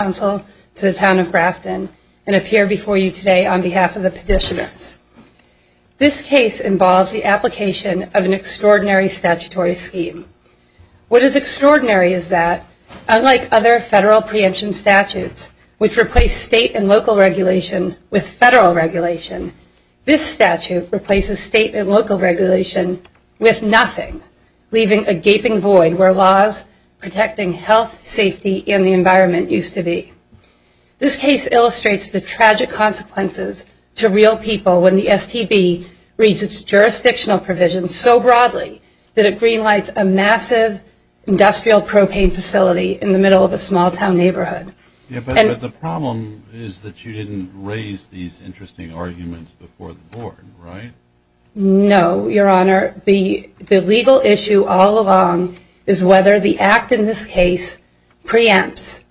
Council to the Town of Grafton and appear before you today on behalf of the petitioners. This case involves the application of an extraordinary statutory scheme. What is extraordinary is that, unlike other federal preemption statutes, which replace state and local regulation with federal regulation, this statute replaces state and local regulation with nothing, leaving a gaping void where laws protecting health, safety, and the environment used to be. This case illustrates the tragic consequences to real people when the STB reads its jurisdictional provisions so broadly that it greenlights a massive industrial propane facility in the middle of a small town neighborhood. But the problem is that you didn't raise these interesting arguments before the board, right? No, your honor. The legal issue all along is whether the act in this case preempts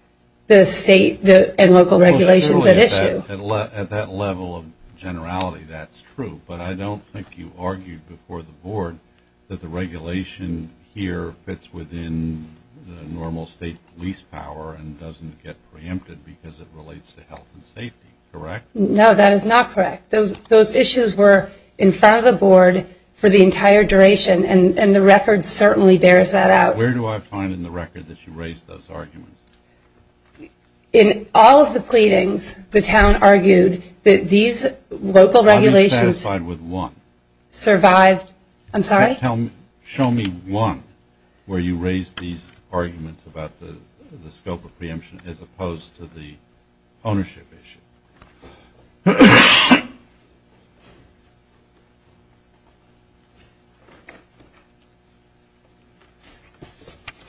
the state and local regulations at issue. At that level of generality, that's true. But I don't think you argued before the board that the regulation here fits within the normal state police power and doesn't get preempted because it relates to health and safety, correct? No, that is not correct. Those issues were in front of the board for the entire duration, and the record certainly bears that out. Where do I find in the record that you raised those arguments? In all of the pleadings, the town argued that these local regulations survived. I'm sorry? Show me one where you raised these arguments about the scope of preemption as opposed to the ownership issue.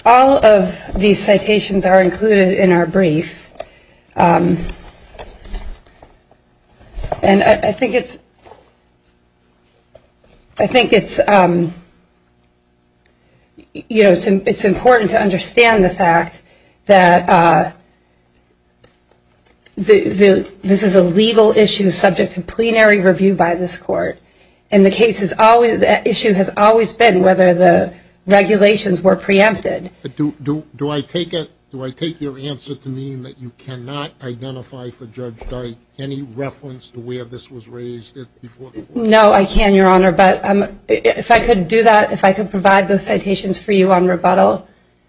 All of these citations are included in our brief. And I think it's important to understand the fact that this is a legal issue subject to plenary review by this court, and the issue has always been whether the regulations were preempted. Do I take your answer to mean that you cannot identify for Judge Dyke any reference to where this was raised before the board? No, I can, Your Honor. But if I could do that, if I could provide those citations for you on rebuttal,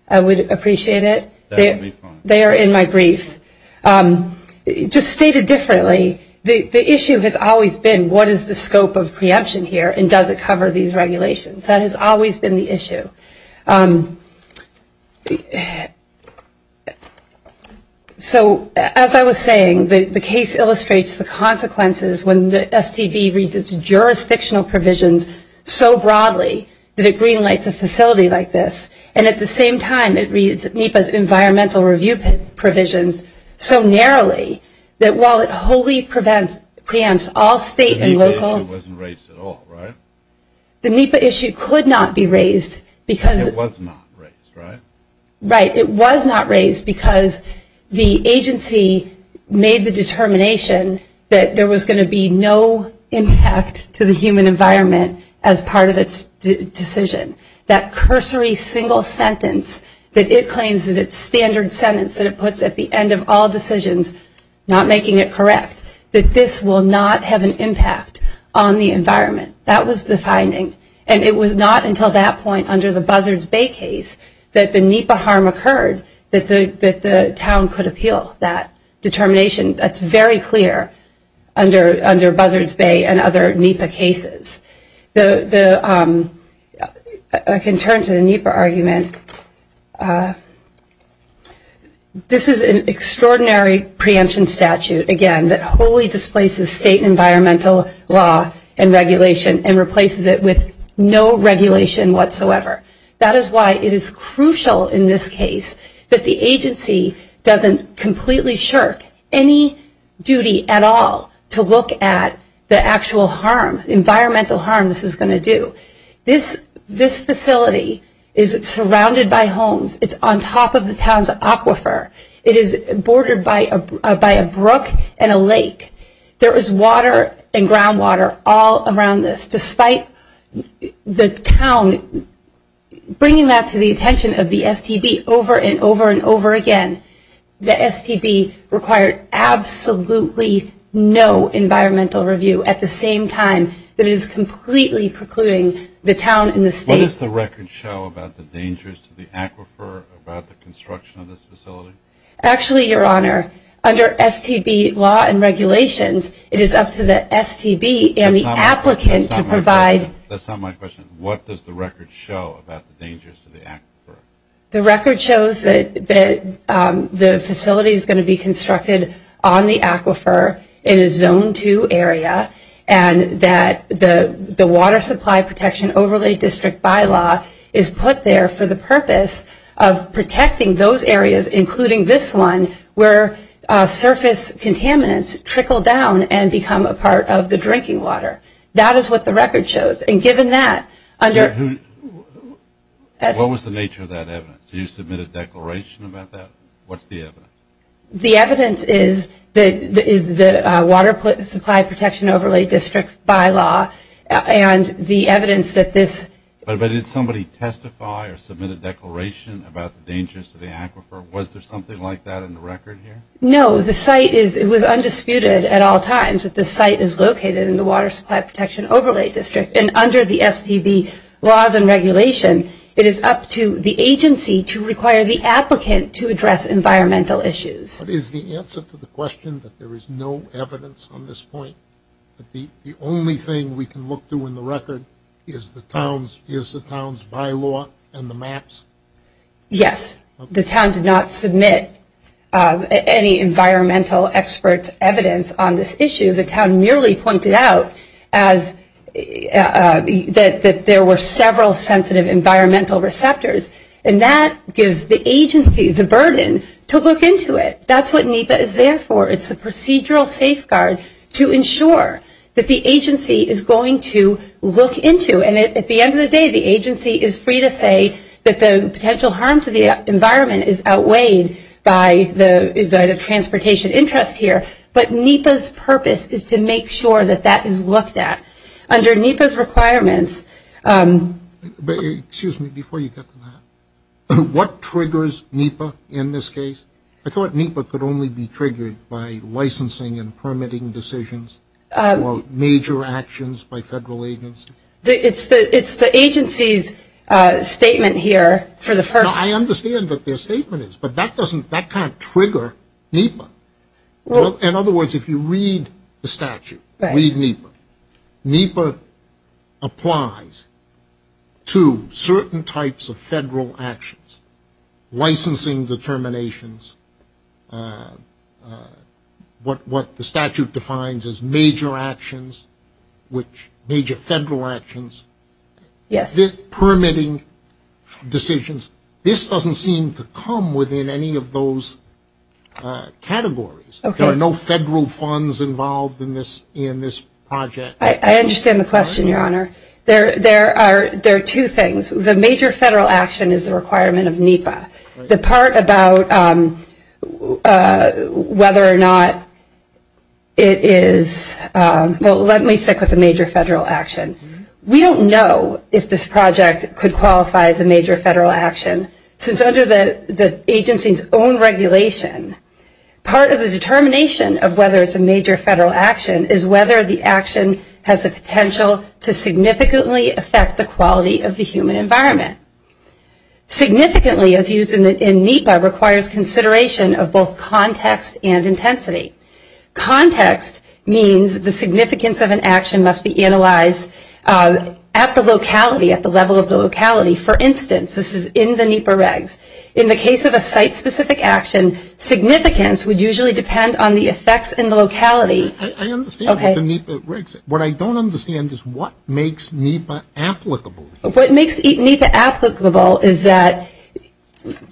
I would appreciate it. That would be fine. They are in my brief. Just stated differently, the issue has always been what is the scope of preemption here, and does it cover these regulations? That has always been the issue. So as I was saying, the case illustrates the consequences when the STB reads its jurisdictional provisions so broadly that it greenlights a facility like this. And at the same time, it reads NEPA's environmental review provisions so narrowly that while it wholly preempts all state and local… The NEPA issue wasn't raised at all, right? The NEPA issue could not be raised because… It was not raised, right? Right. It was not raised because the agency made the determination that there was going to be no impact to the human environment as part of its decision. That cursory single sentence that it claims is its standard sentence that it puts at the end of all decisions, not making it correct, that this will not have an impact on the environment. That was the finding. And it was not until that point under the Buzzards Bay case that the NEPA harm occurred that the town could appeal that determination. That's very clear under Buzzards Bay and other NEPA cases. I can turn to the NEPA argument. This is an extraordinary preemption statute, again, that wholly displaces state environmental law and regulation and replaces it with no regulation whatsoever. That is why it is crucial in this case that the agency doesn't completely shirk any duty at all to look at the actual harm, environmental harm this is going to do. This facility is surrounded by homes. It's on top of the town's aquifer. It is bordered by a brook and a lake. There is water and groundwater all around this. Despite the town bringing that to the attention of the STB over and over and over again, the STB required absolutely no environmental review at the same time that it is completely precluding the town and the state. What does the record show about the dangers to the aquifer, about the construction of this facility? Actually, your honor, under STB law and regulations, it is up to the STB and the applicant to provide That's not my question. What does the record show about the dangers to the aquifer? The record shows that the facility is going to be constructed on the aquifer in a zone 2 area and that the water supply protection overlay district bylaw is put there for the purpose of protecting those areas, including this one, where surface contaminants trickle down and become a part of the drinking water. That is what the record shows. What was the nature of that evidence? Did you submit a declaration about that? What's the evidence? The evidence is the water supply protection overlay district bylaw and the evidence that this But did somebody testify or submit a declaration about the dangers to the aquifer? Was there something like that in the record here? No, the site was undisputed at all times that the site is located in the water supply protection overlay district. And under the STB laws and regulation, it is up to the agency to require the applicant to address environmental issues. But is the answer to the question that there is no evidence on this point, that the only thing we can look to in the record is the town's bylaw and the maps? Yes, the town did not submit any environmental experts' evidence on this issue. The town merely pointed out that there were several sensitive environmental receptors and that gives the agency the burden to look into it. That's what NEPA is there for. It's a procedural safeguard to ensure that the agency is going to look into. And at the end of the day, the agency is free to say that the potential harm to the environment is outweighed by the transportation interest here. But NEPA's purpose is to make sure that that is looked at. Under NEPA's requirements – Excuse me. Before you get to that, what triggers NEPA in this case? I thought NEPA could only be triggered by licensing and permitting decisions or major actions by federal agencies. It's the agency's statement here for the first – I understand what their statement is, but that doesn't – that can't trigger NEPA. In other words, if you read the statute, read NEPA, NEPA applies to certain types of federal actions. Licensing determinations, what the statute defines as major actions, which major federal actions, permitting decisions. This doesn't seem to come within any of those categories. There are no federal funds involved in this project. I understand the question, Your Honor. There are two things. The major federal action is the requirement of NEPA. The part about whether or not it is – well, let me stick with the major federal action. We don't know if this project could qualify as a major federal action, since under the agency's own regulation, part of the determination of whether it's a major federal action is whether the action has the potential to significantly affect the quality of the human environment. Significantly, as used in NEPA, requires consideration of both context and intensity. Context means the significance of an action must be analyzed at the locality, at the level of the locality. For instance, this is in the NEPA regs. In the case of a site-specific action, significance would usually depend on the effects in the locality. I understand the NEPA regs. What I don't understand is what makes NEPA applicable. What makes NEPA applicable is that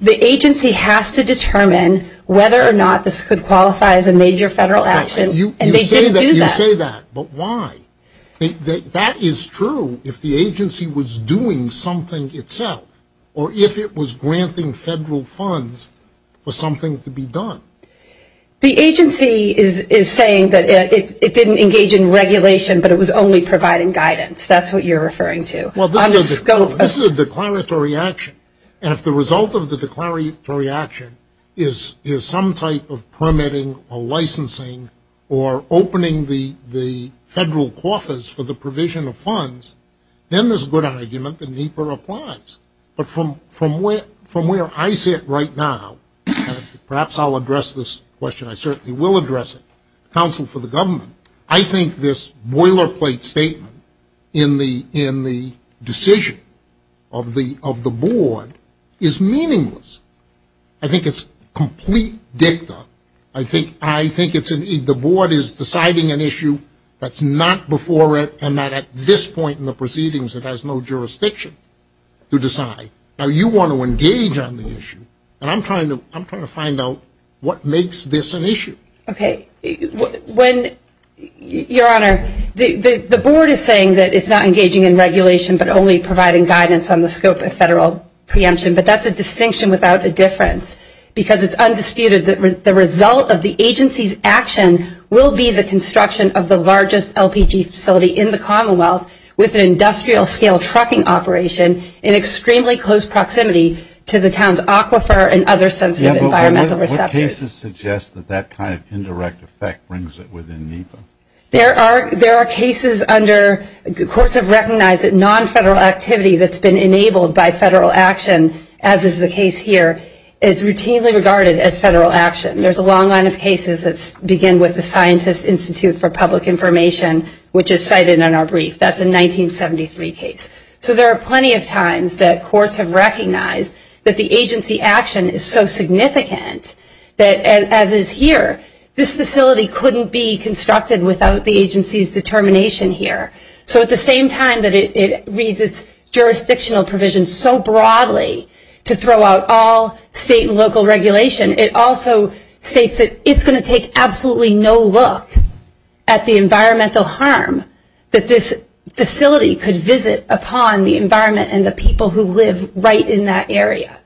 the agency has to determine whether or not this could qualify as a major federal action. You say that, but why? That is true if the agency was doing something itself or if it was granting federal funds for something to be done. The agency is saying that it didn't engage in regulation, but it was only providing guidance. That's what you're referring to. Well, this is a declaratory action, and if the result of the declaratory action is some type of permitting or licensing or opening the federal coffers for the provision of funds, then there's a good argument that NEPA applies. But from where I sit right now, perhaps I'll address this question, I certainly will address it, counsel for the government, I think this boilerplate statement in the decision of the board is meaningless. I think it's complete dicta. I think the board is deciding an issue that's not before it and that at this point in the proceedings it has no jurisdiction to decide. Now, you want to engage on the issue, and I'm trying to find out what makes this an issue. Okay. Your Honor, the board is saying that it's not engaging in regulation but only providing guidance on the scope of federal preemption, but that's a distinction without a difference because it's undisputed that the result of the agency's action will be the extremely close proximity to the town's aquifer and other sensitive environmental receptors. What cases suggest that that kind of indirect effect brings it within NEPA? There are cases under courts have recognized that nonfederal activity that's been enabled by federal action, as is the case here, is routinely regarded as federal action. There's a long line of cases that begin with the Scientist Institute for Public Information, which is cited in our brief. That's a 1973 case. So there are plenty of times that courts have recognized that the agency action is so significant that, as is here, this facility couldn't be constructed without the agency's determination here. So at the same time that it reads its jurisdictional provisions so broadly to throw out all state and local regulation, it also states that it's going to take absolutely no look at the environmental harm that this facility could visit upon the environment and the people who live right in that area.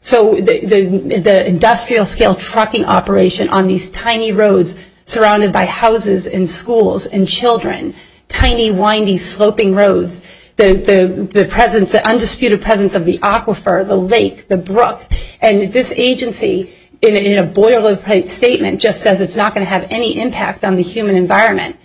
So the industrial scale trucking operation on these tiny roads surrounded by houses and schools and children, tiny windy sloping roads, the presence, the undisputed presence of the aquifer, the lake, the brook, and this agency in a boilerplate statement just says it's not going to have any impact on the human environment.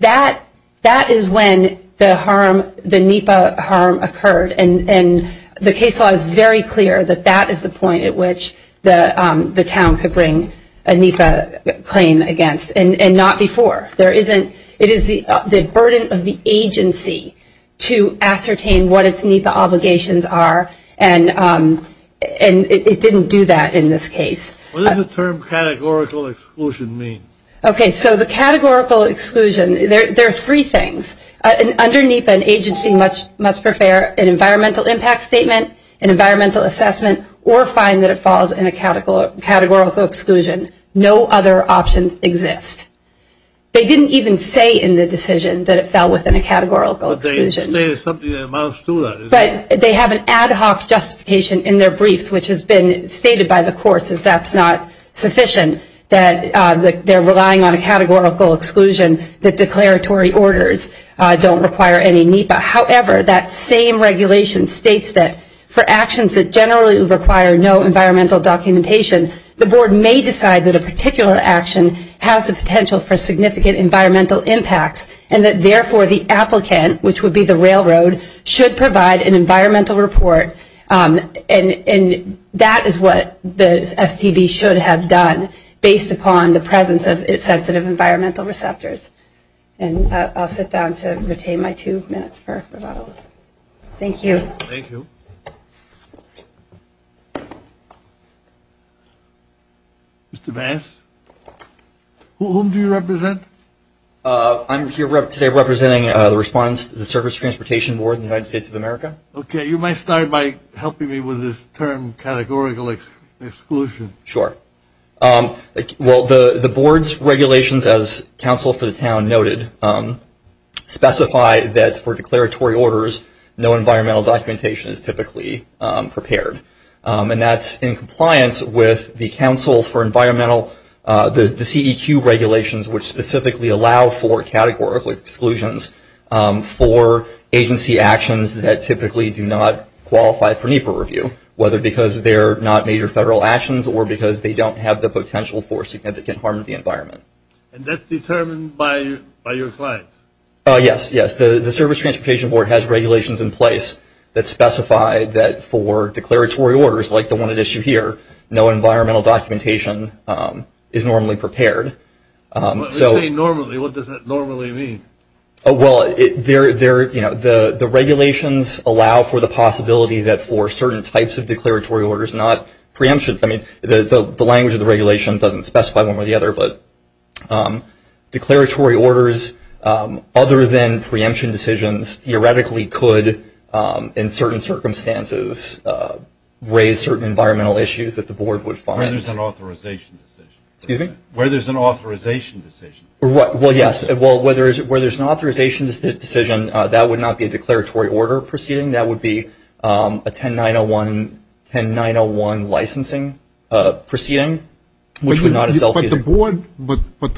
That is when the harm, the NEPA harm occurred, and the case law is very clear that that is the point at which the town could bring a NEPA claim against, and not before. It is the burden of the agency to ascertain what its NEPA obligations are, and it didn't do that in this case. What does the term categorical exclusion mean? Okay, so the categorical exclusion, there are three things. Under NEPA, an agency must prepare an environmental impact statement, an environmental assessment, or find that it falls in a categorical exclusion. No other options exist. They didn't even say in the decision that it fell within a categorical exclusion. But they stated something that amounts to that. But they have an ad hoc justification in their briefs which has been stated by the courts that that's not sufficient, that they're relying on a categorical exclusion, that declaratory orders don't require any NEPA. However, that same regulation states that for actions that generally require no environmental documentation, the board may decide that a particular action has the potential for significant environmental impacts, and that therefore the applicant, which would be the railroad, should provide an environmental report. And that is what the STB should have done based upon the presence of its sensitive environmental receptors. And I'll sit down to retain my two minutes for rebuttal. Thank you. Thank you. Mr. Vance, whom do you represent? I'm here today representing the respondents to the Surface Transportation Board in the United States of America. Okay. You might start by helping me with this term, categorical exclusion. Sure. Well, the board's regulations, as counsel for the town noted, specify that for declaratory orders no environmental documentation is typically prepared. And that's in compliance with the Council for Environmental, the CEQ regulations, which specifically allow for categorical exclusions for agency actions that typically do not qualify for NEPA review, whether because they're not major federal actions or because they don't have the potential for significant harm to the environment. And that's determined by your client? Yes, yes. The Surface Transportation Board has regulations in place that specify that for declaratory orders, like the one at issue here, no environmental documentation is normally prepared. When you say normally, what does that normally mean? Well, the regulations allow for the possibility that for certain types of declaratory orders, not preemption. I mean, the language of the regulation doesn't specify one way or the other, but declaratory orders other than preemption decisions theoretically could, in certain circumstances, raise certain environmental issues that the board would find. Where there's an authorization decision. Excuse me? Where there's an authorization decision. Well, yes. Where there's an authorization decision, that would not be a declaratory order proceeding. But the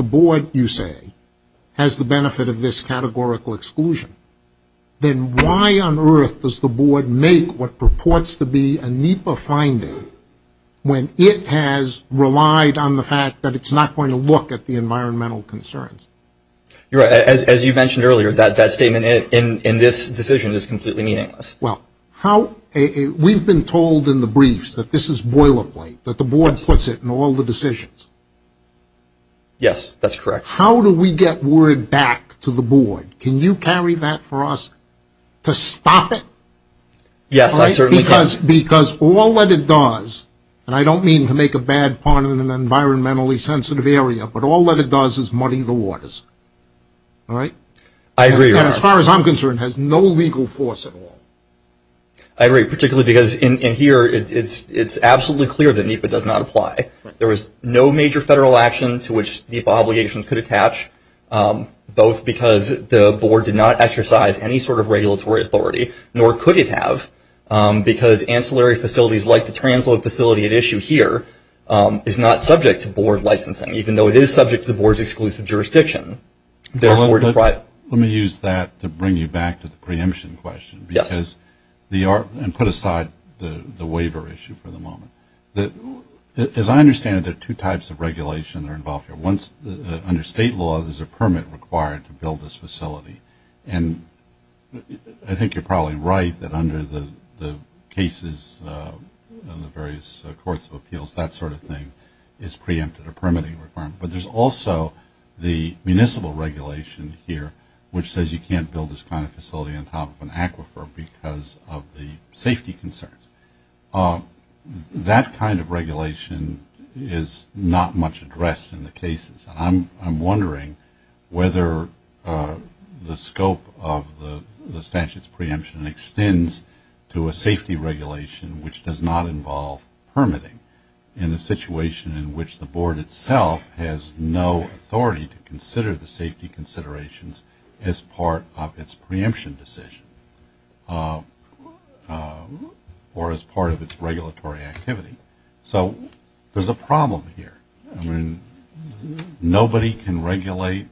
board, you say, has the benefit of this categorical exclusion. Then why on earth does the board make what purports to be a NEPA finding when it has relied on the fact that it's not going to look at the environmental concerns? You're right. As you mentioned earlier, that statement in this decision is completely meaningless. We've been told in the briefs that this is boilerplate, that the board puts it in all the decisions. Yes, that's correct. How do we get word back to the board? Can you carry that for us to stop it? Yes, I certainly can. Because all that it does, and I don't mean to make a bad point in an environmentally sensitive area, but all that it does is muddy the waters. All right? I agree. As far as I'm concerned, it has no legal force at all. I agree, particularly because in here, it's absolutely clear that NEPA does not apply. There was no major federal action to which the obligation could attach, both because the board did not exercise any sort of regulatory authority, nor could it have, because ancillary facilities like the transload facility at issue here is not subject to board licensing, even though it is subject to the board's exclusive jurisdiction. Let me use that to bring you back to the preemption question. Yes. And put aside the waiver issue for the moment. As I understand it, there are two types of regulation that are involved here. Under state law, there's a permit required to build this facility. And I think you're probably right that under the cases in the various courts of appeals, that sort of thing, it's preempted, a permitting requirement. But there's also the municipal regulation here, which says you can't build this kind of facility on top of an aquifer because of the safety concerns. That kind of regulation is not much addressed in the cases. I'm wondering whether the scope of the statute's preemption extends to a safety regulation, which does not involve permitting, in a situation in which the board itself has no authority to consider the safety considerations as part of its preemption decision or as part of its regulatory activity. So there's a problem here. I mean, nobody can regulate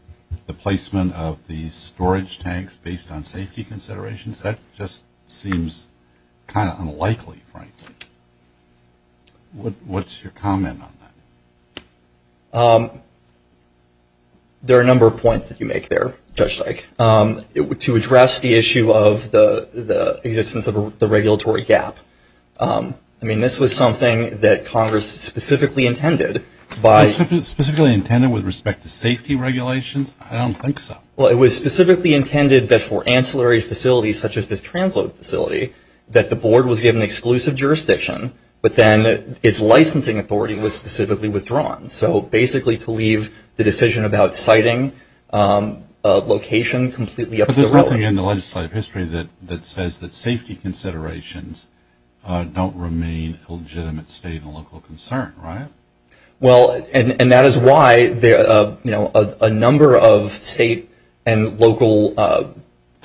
the placement of the storage tanks based on safety considerations. That just seems kind of unlikely, frankly. What's your comment on that? There are a number of points that you make there, Judge Dyke, to address the issue of the existence of the regulatory gap. I mean, this was something that Congress specifically intended by — Specifically intended with respect to safety regulations? I don't think so. Well, it was specifically intended that for ancillary facilities, such as this transload facility, that the board was given exclusive jurisdiction, but then its licensing authority was specifically withdrawn. So basically to leave the decision about siting a location completely up to the road. But there's nothing in the legislative history that says that safety considerations don't remain a legitimate state and local concern, right? Well, and that is why a number of state and local types of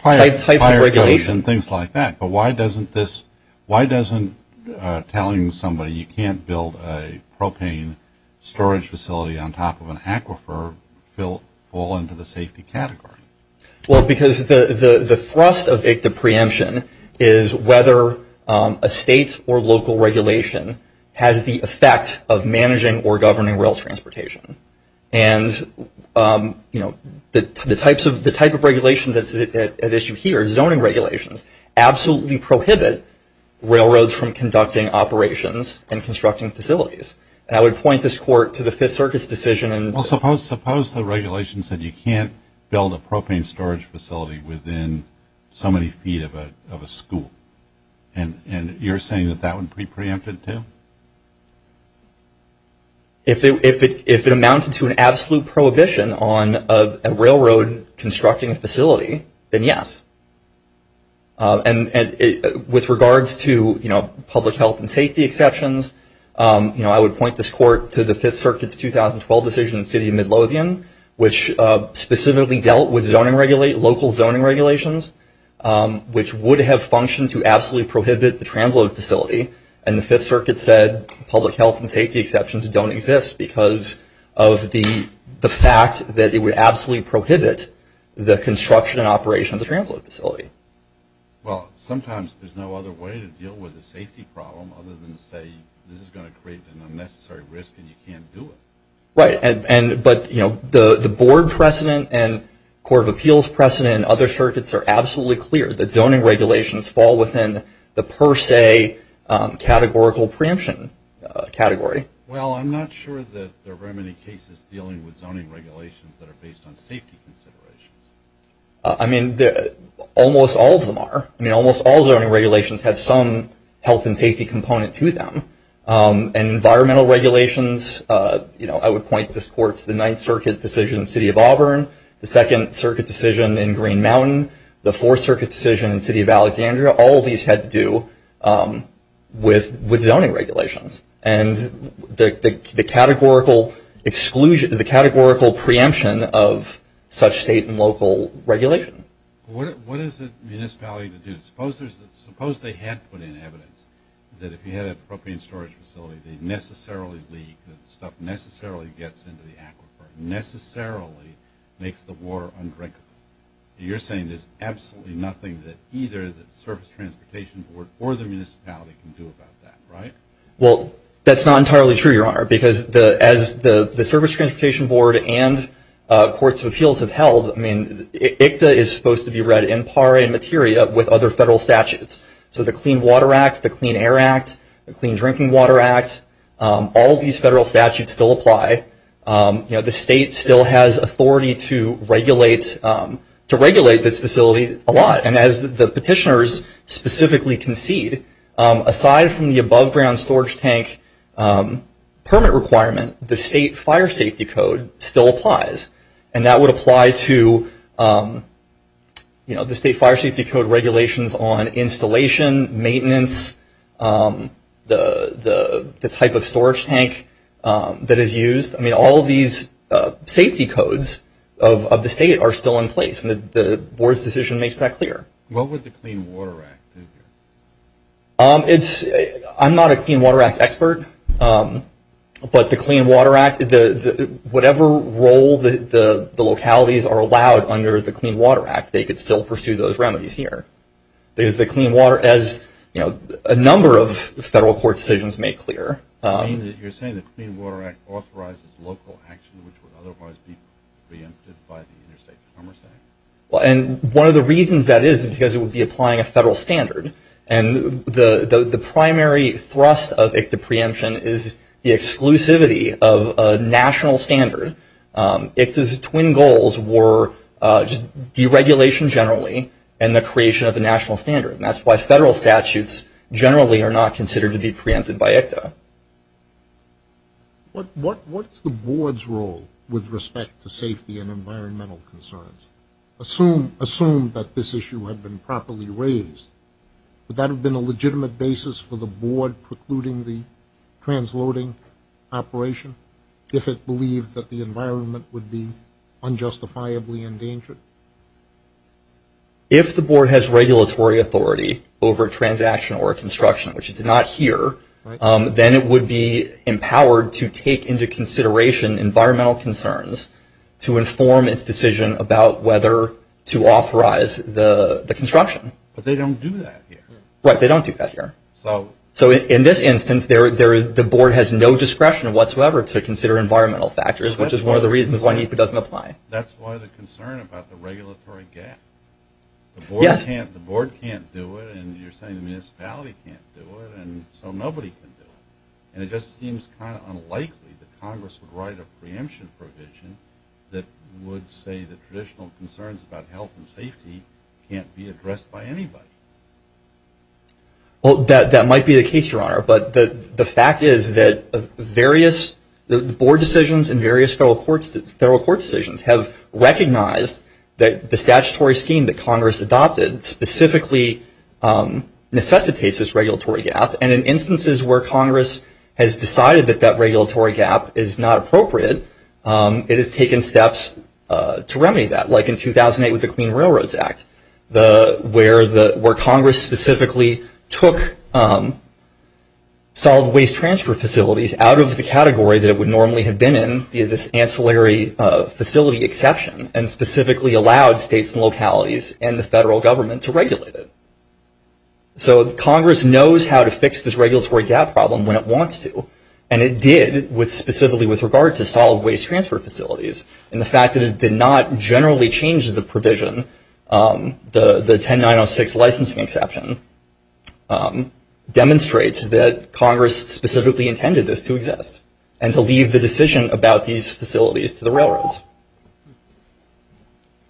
regulation — Fire codes and things like that. But why doesn't this — why doesn't telling somebody you can't build a propane storage facility on top of an aquifer fall into the safety category? Well, because the thrust of ICDA preemption is whether a state or local regulation has the effect of managing or governing rail transportation. And, you know, the type of regulation that's at issue here, zoning regulations, absolutely prohibit railroads from conducting operations and constructing facilities. And I would point this court to the Fifth Circuit's decision — Well, suppose the regulation said you can't build a propane storage facility within so many feet of a school. And you're saying that that would be preempted too? If it amounted to an absolute prohibition on a railroad constructing a facility, then yes. And with regards to, you know, public health and safety exceptions, you know, I would point this court to the Fifth Circuit's 2012 decision in the city of Midlothian, which specifically dealt with zoning — local zoning regulations, which would have functioned to absolutely prohibit the transload facility. And the Fifth Circuit said public health and safety exceptions don't exist because of the fact that it would absolutely prohibit the construction and operation of the transload facility. Well, sometimes there's no other way to deal with a safety problem other than to say, this is going to create an unnecessary risk and you can't do it. Right. But, you know, the board precedent and court of appeals precedent and other circuits are absolutely clear that zoning regulations fall within the per se categorical preemption category. Well, I'm not sure that there are very many cases dealing with zoning regulations that are based on safety considerations. I mean, almost all of them are. I mean, almost all zoning regulations have some health and safety component to them. Environmental regulations, you know, I would point this court to the Ninth Circuit decision in the city of Auburn, the Second Circuit decision in Green Mountain, the Fourth Circuit decision in the city of Alexandria. All of these had to do with zoning regulations and the categorical exclusion — the categorical preemption of such state and local regulation. What is the municipality to do? Suppose they had put in evidence that if you had a propane storage facility, they'd necessarily leak, the stuff necessarily gets into the aquifer, necessarily makes the water undrinkable. You're saying there's absolutely nothing that either the Surface Transportation Board or the municipality can do about that, right? Well, that's not entirely true, Your Honor, because as the Surface Transportation Board and courts of appeals have held, I mean, ICTA is supposed to be read in par and materia with other federal statutes. So the Clean Water Act, the Clean Air Act, the Clean Drinking Water Act, all these federal statutes still apply. You know, the state still has authority to regulate this facility a lot. And as the petitioners specifically concede, aside from the above-ground storage tank permit requirement, the state fire safety code still applies. And that would apply to, you know, the state fire safety code regulations on installation, maintenance, the type of storage tank that is used. I mean, all of these safety codes of the state are still in place, and the board's decision makes that clear. What would the Clean Water Act do here? I'm not a Clean Water Act expert, but the Clean Water Act, whatever role the localities are allowed under the Clean Water Act, they could still pursue those remedies here. Because the Clean Water, as a number of federal court decisions make clear. You're saying the Clean Water Act authorizes local action which would otherwise be preempted by the Interstate Commerce Act? And one of the reasons that is is because it would be applying a federal standard. And the primary thrust of ICTA preemption is the exclusivity of a national standard. ICTA's twin goals were deregulation generally and the creation of a national standard. And that's why federal statutes generally are not considered to be preempted by ICTA. What's the board's role with respect to safety and environmental concerns? Assume that this issue had been properly raised. Would that have been a legitimate basis for the board precluding the transloading operation if it believed that the environment would be unjustifiably endangered? If the board has regulatory authority over transaction or construction, which it's not here, then it would be empowered to take into consideration environmental concerns to inform its decision about whether to authorize the construction. But they don't do that here. Right, they don't do that here. So in this instance, the board has no discretion whatsoever to consider environmental factors, which is one of the reasons why NEPA doesn't apply. That's why the concern about the regulatory gap. The board can't do it, and you're saying the municipality can't do it, and so nobody can do it. And it just seems kind of unlikely that Congress would write a preemption provision that would say that traditional concerns about health and safety can't be addressed by anybody. Well, that might be the case, Your Honor. But the fact is that various board decisions and various federal court decisions have recognized that the statutory scheme that Congress adopted specifically necessitates this regulatory gap. And in instances where Congress has decided that that regulatory gap is not appropriate, it has taken steps to remedy that, like in 2008 with the Clean Railroads Act, where Congress specifically took solid waste transfer facilities out of the category that it would normally have been in via this ancillary facility exception and specifically allowed states and localities and the federal government to regulate it. So Congress knows how to fix this regulatory gap problem when it wants to, and it did specifically with regard to solid waste transfer facilities. And the fact that it did not generally change the provision, the 10906 licensing exception, demonstrates that Congress specifically intended this to exist and to leave the decision about these facilities to the railroads.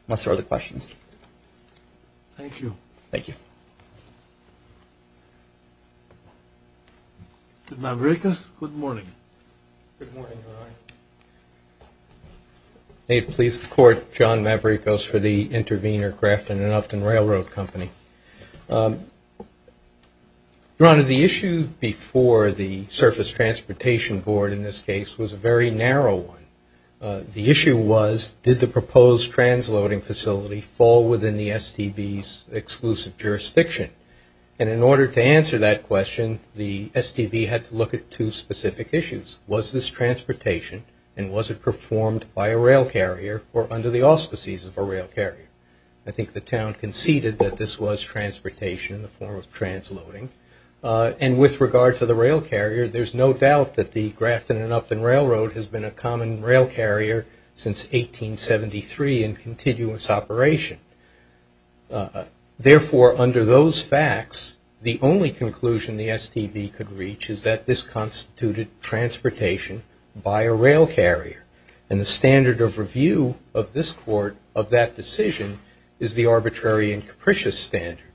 Unless there are other questions. Thank you. Thank you. Maverickos, good morning. Good morning, Your Honor. May it please the Court, John Maverickos for the Intervenor, Grafton and Upton Railroad Company. Your Honor, the issue before the Surface Transportation Board in this case was a very narrow one. The issue was, did the proposed transloading facility fall within the STB's exclusive jurisdiction? And in order to answer that question, the STB had to look at two specific issues. Was this transportation and was it performed by a rail carrier or under the auspices of a rail carrier? I think the town conceded that this was transportation in the form of transloading. And with regard to the rail carrier, there's no doubt that the Grafton and Upton Railroad has been a common rail carrier since 1873 in continuous operation. Therefore, under those facts, the only conclusion the STB could reach is that this constituted transportation by a rail carrier. And the standard of review of this Court of that decision is the arbitrary and capricious standard.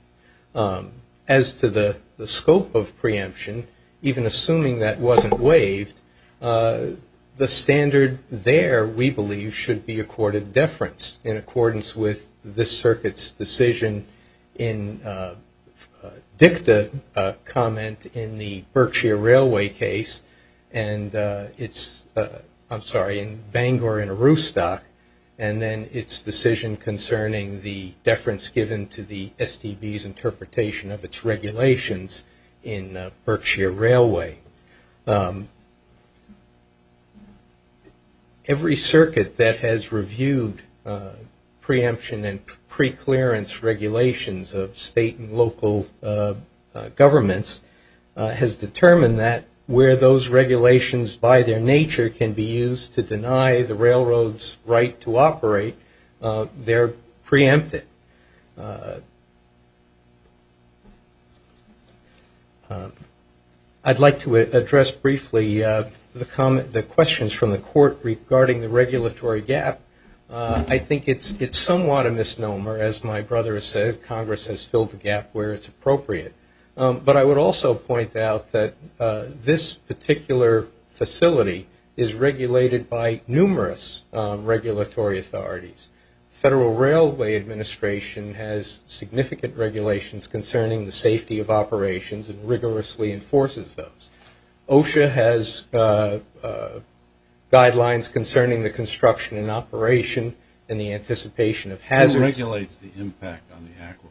As to the scope of preemption, even assuming that wasn't waived, the standard there, we believe, should be accorded deference in accordance with this Circuit's decision in dicta comment in the Berkshire Railway case. And it's, I'm sorry, in Bangor and Aroostock. And then its decision concerning the deference given to the STB's interpretation of its regulations in Berkshire Railway. Every circuit that has reviewed preemption and preclearance regulations of state and local governments has determined that where those regulations, by their nature, can be used to deny the railroads right to operate, they're preempted. I'd like to address briefly the questions from the Court regarding the regulatory gap. I think it's somewhat a misnomer. As my brother has said, Congress has filled the gap where it's appropriate. But I would also point out that this particular facility is regulated by numerous regulatory authorities. Federal Railway Administration has significant regulations concerning the safety of operations and rigorously enforces those. OSHA has guidelines concerning the construction and operation and the anticipation of hazards. Who regulates the impact on the aquifer?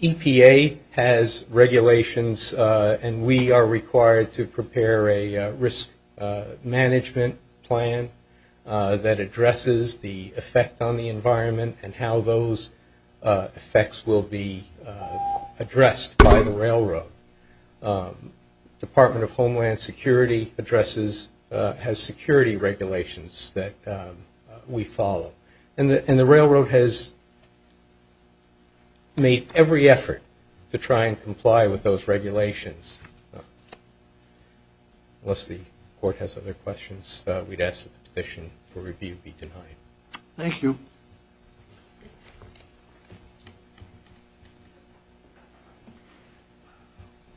EPA has regulations. And we are required to prepare a risk management plan that addresses the effect on the environment and how those effects will be addressed by the railroad. Department of Homeland Security addresses, has security regulations that we follow. And the railroad has made every effort to try and comply with those regulations. Unless the Court has other questions, we'd ask that the petition for review be denied. Thank you.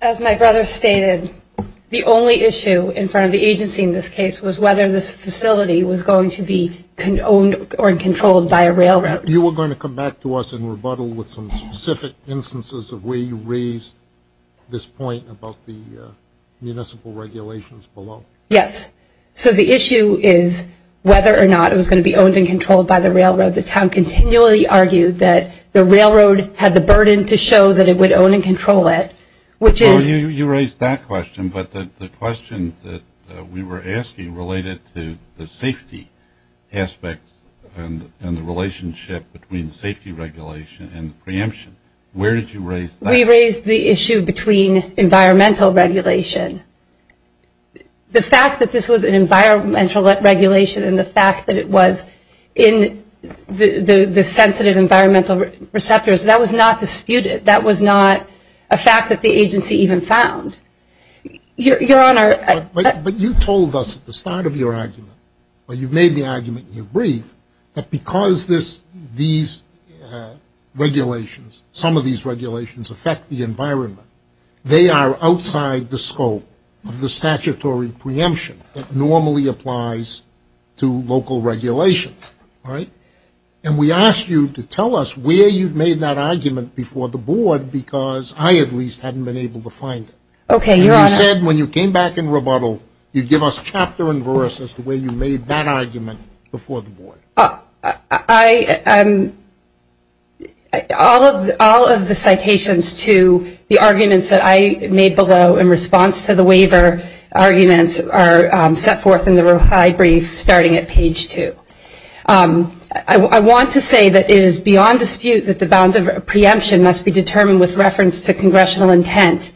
As my brother stated, the only issue in front of the agency in this case was whether this facility was going to be owned or controlled by a railroad. You were going to come back to us and rebuttal with some specific instances of where you raised this point about the municipal regulations below. Yes. So the issue is whether or not it was going to be owned and controlled by the railroad. The town continually argued that the railroad had the burden to show that it would own and control it, which is You raised that question, but the question that we were asking related to the safety aspect and the relationship between safety regulation and preemption. Where did you raise that? We raised the issue between environmental regulation. The fact that this was an environmental regulation and the fact that it was in the sensitive environmental receptors, that was not disputed. That was not a fact that the agency even found. Your Honor. But you told us at the start of your argument, or you made the argument in your brief, that because these regulations, some of these regulations affect the environment, they are outside the scope of the statutory preemption that normally applies to local regulations, right? And we asked you to tell us where you made that argument before the board, because I at least hadn't been able to find it. Okay, Your Honor. And you said when you came back in rebuttal, you'd give us chapter and verse as to where you made that argument before the board. All of the citations to the arguments that I made below in response to the waiver arguments are set forth in the brief starting at page two. I want to say that it is beyond dispute that the bounds of preemption must be determined with reference to congressional intent.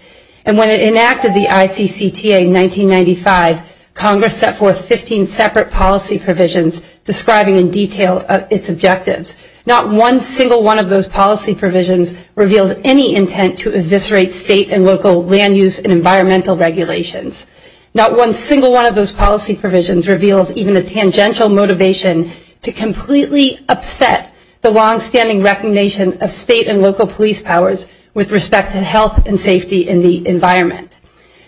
And when it enacted the ICCTA in 1995, Congress set forth 15 separate policy provisions describing in detail its objectives. Not one single one of those policy provisions reveals any intent to eviscerate state and local land use and environmental regulations. Not one single one of those policy provisions reveals even a tangential motivation to completely upset the longstanding recognition of state and local police powers with respect to health and safety in the environment.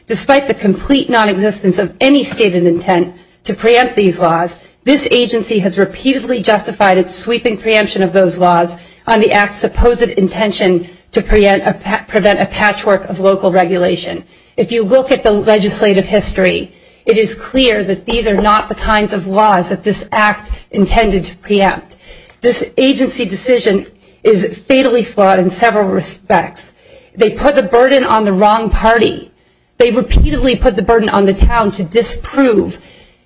Despite the complete nonexistence of any stated intent to preempt these laws, this agency has repeatedly justified its sweeping preemption of those laws on the act's supposed intention to prevent a patchwork of local regulation. If you look at the legislative history, it is clear that these are not the kinds of laws that this act intended to preempt. This agency decision is fatally flawed in several respects. They put the burden on the wrong party. They repeatedly put the burden on the town to disprove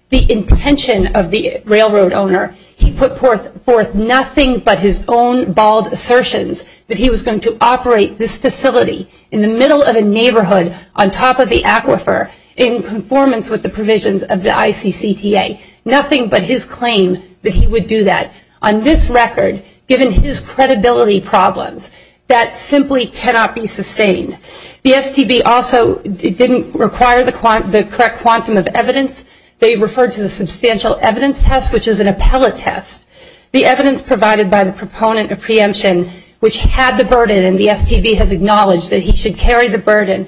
the intention of the railroad owner. He put forth nothing but his own bald assertions that he was going to operate this facility in the middle of a neighborhood on top of the aquifer in conformance with the provisions of the ICCTA. Nothing but his claim that he would do that. On this record, given his credibility problems, that simply cannot be sustained. The STB also didn't require the correct quantum of evidence. They referred to the substantial evidence test, which is an appellate test. The evidence provided by the proponent of preemption, which had the burden and the STB has acknowledged that he should carry the burden,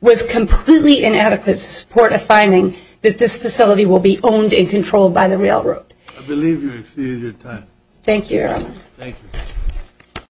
was completely inadequate to support a finding that this facility will be owned and controlled by the railroad. I believe you've exceeded your time. Thank you, Your Honor. Thank you.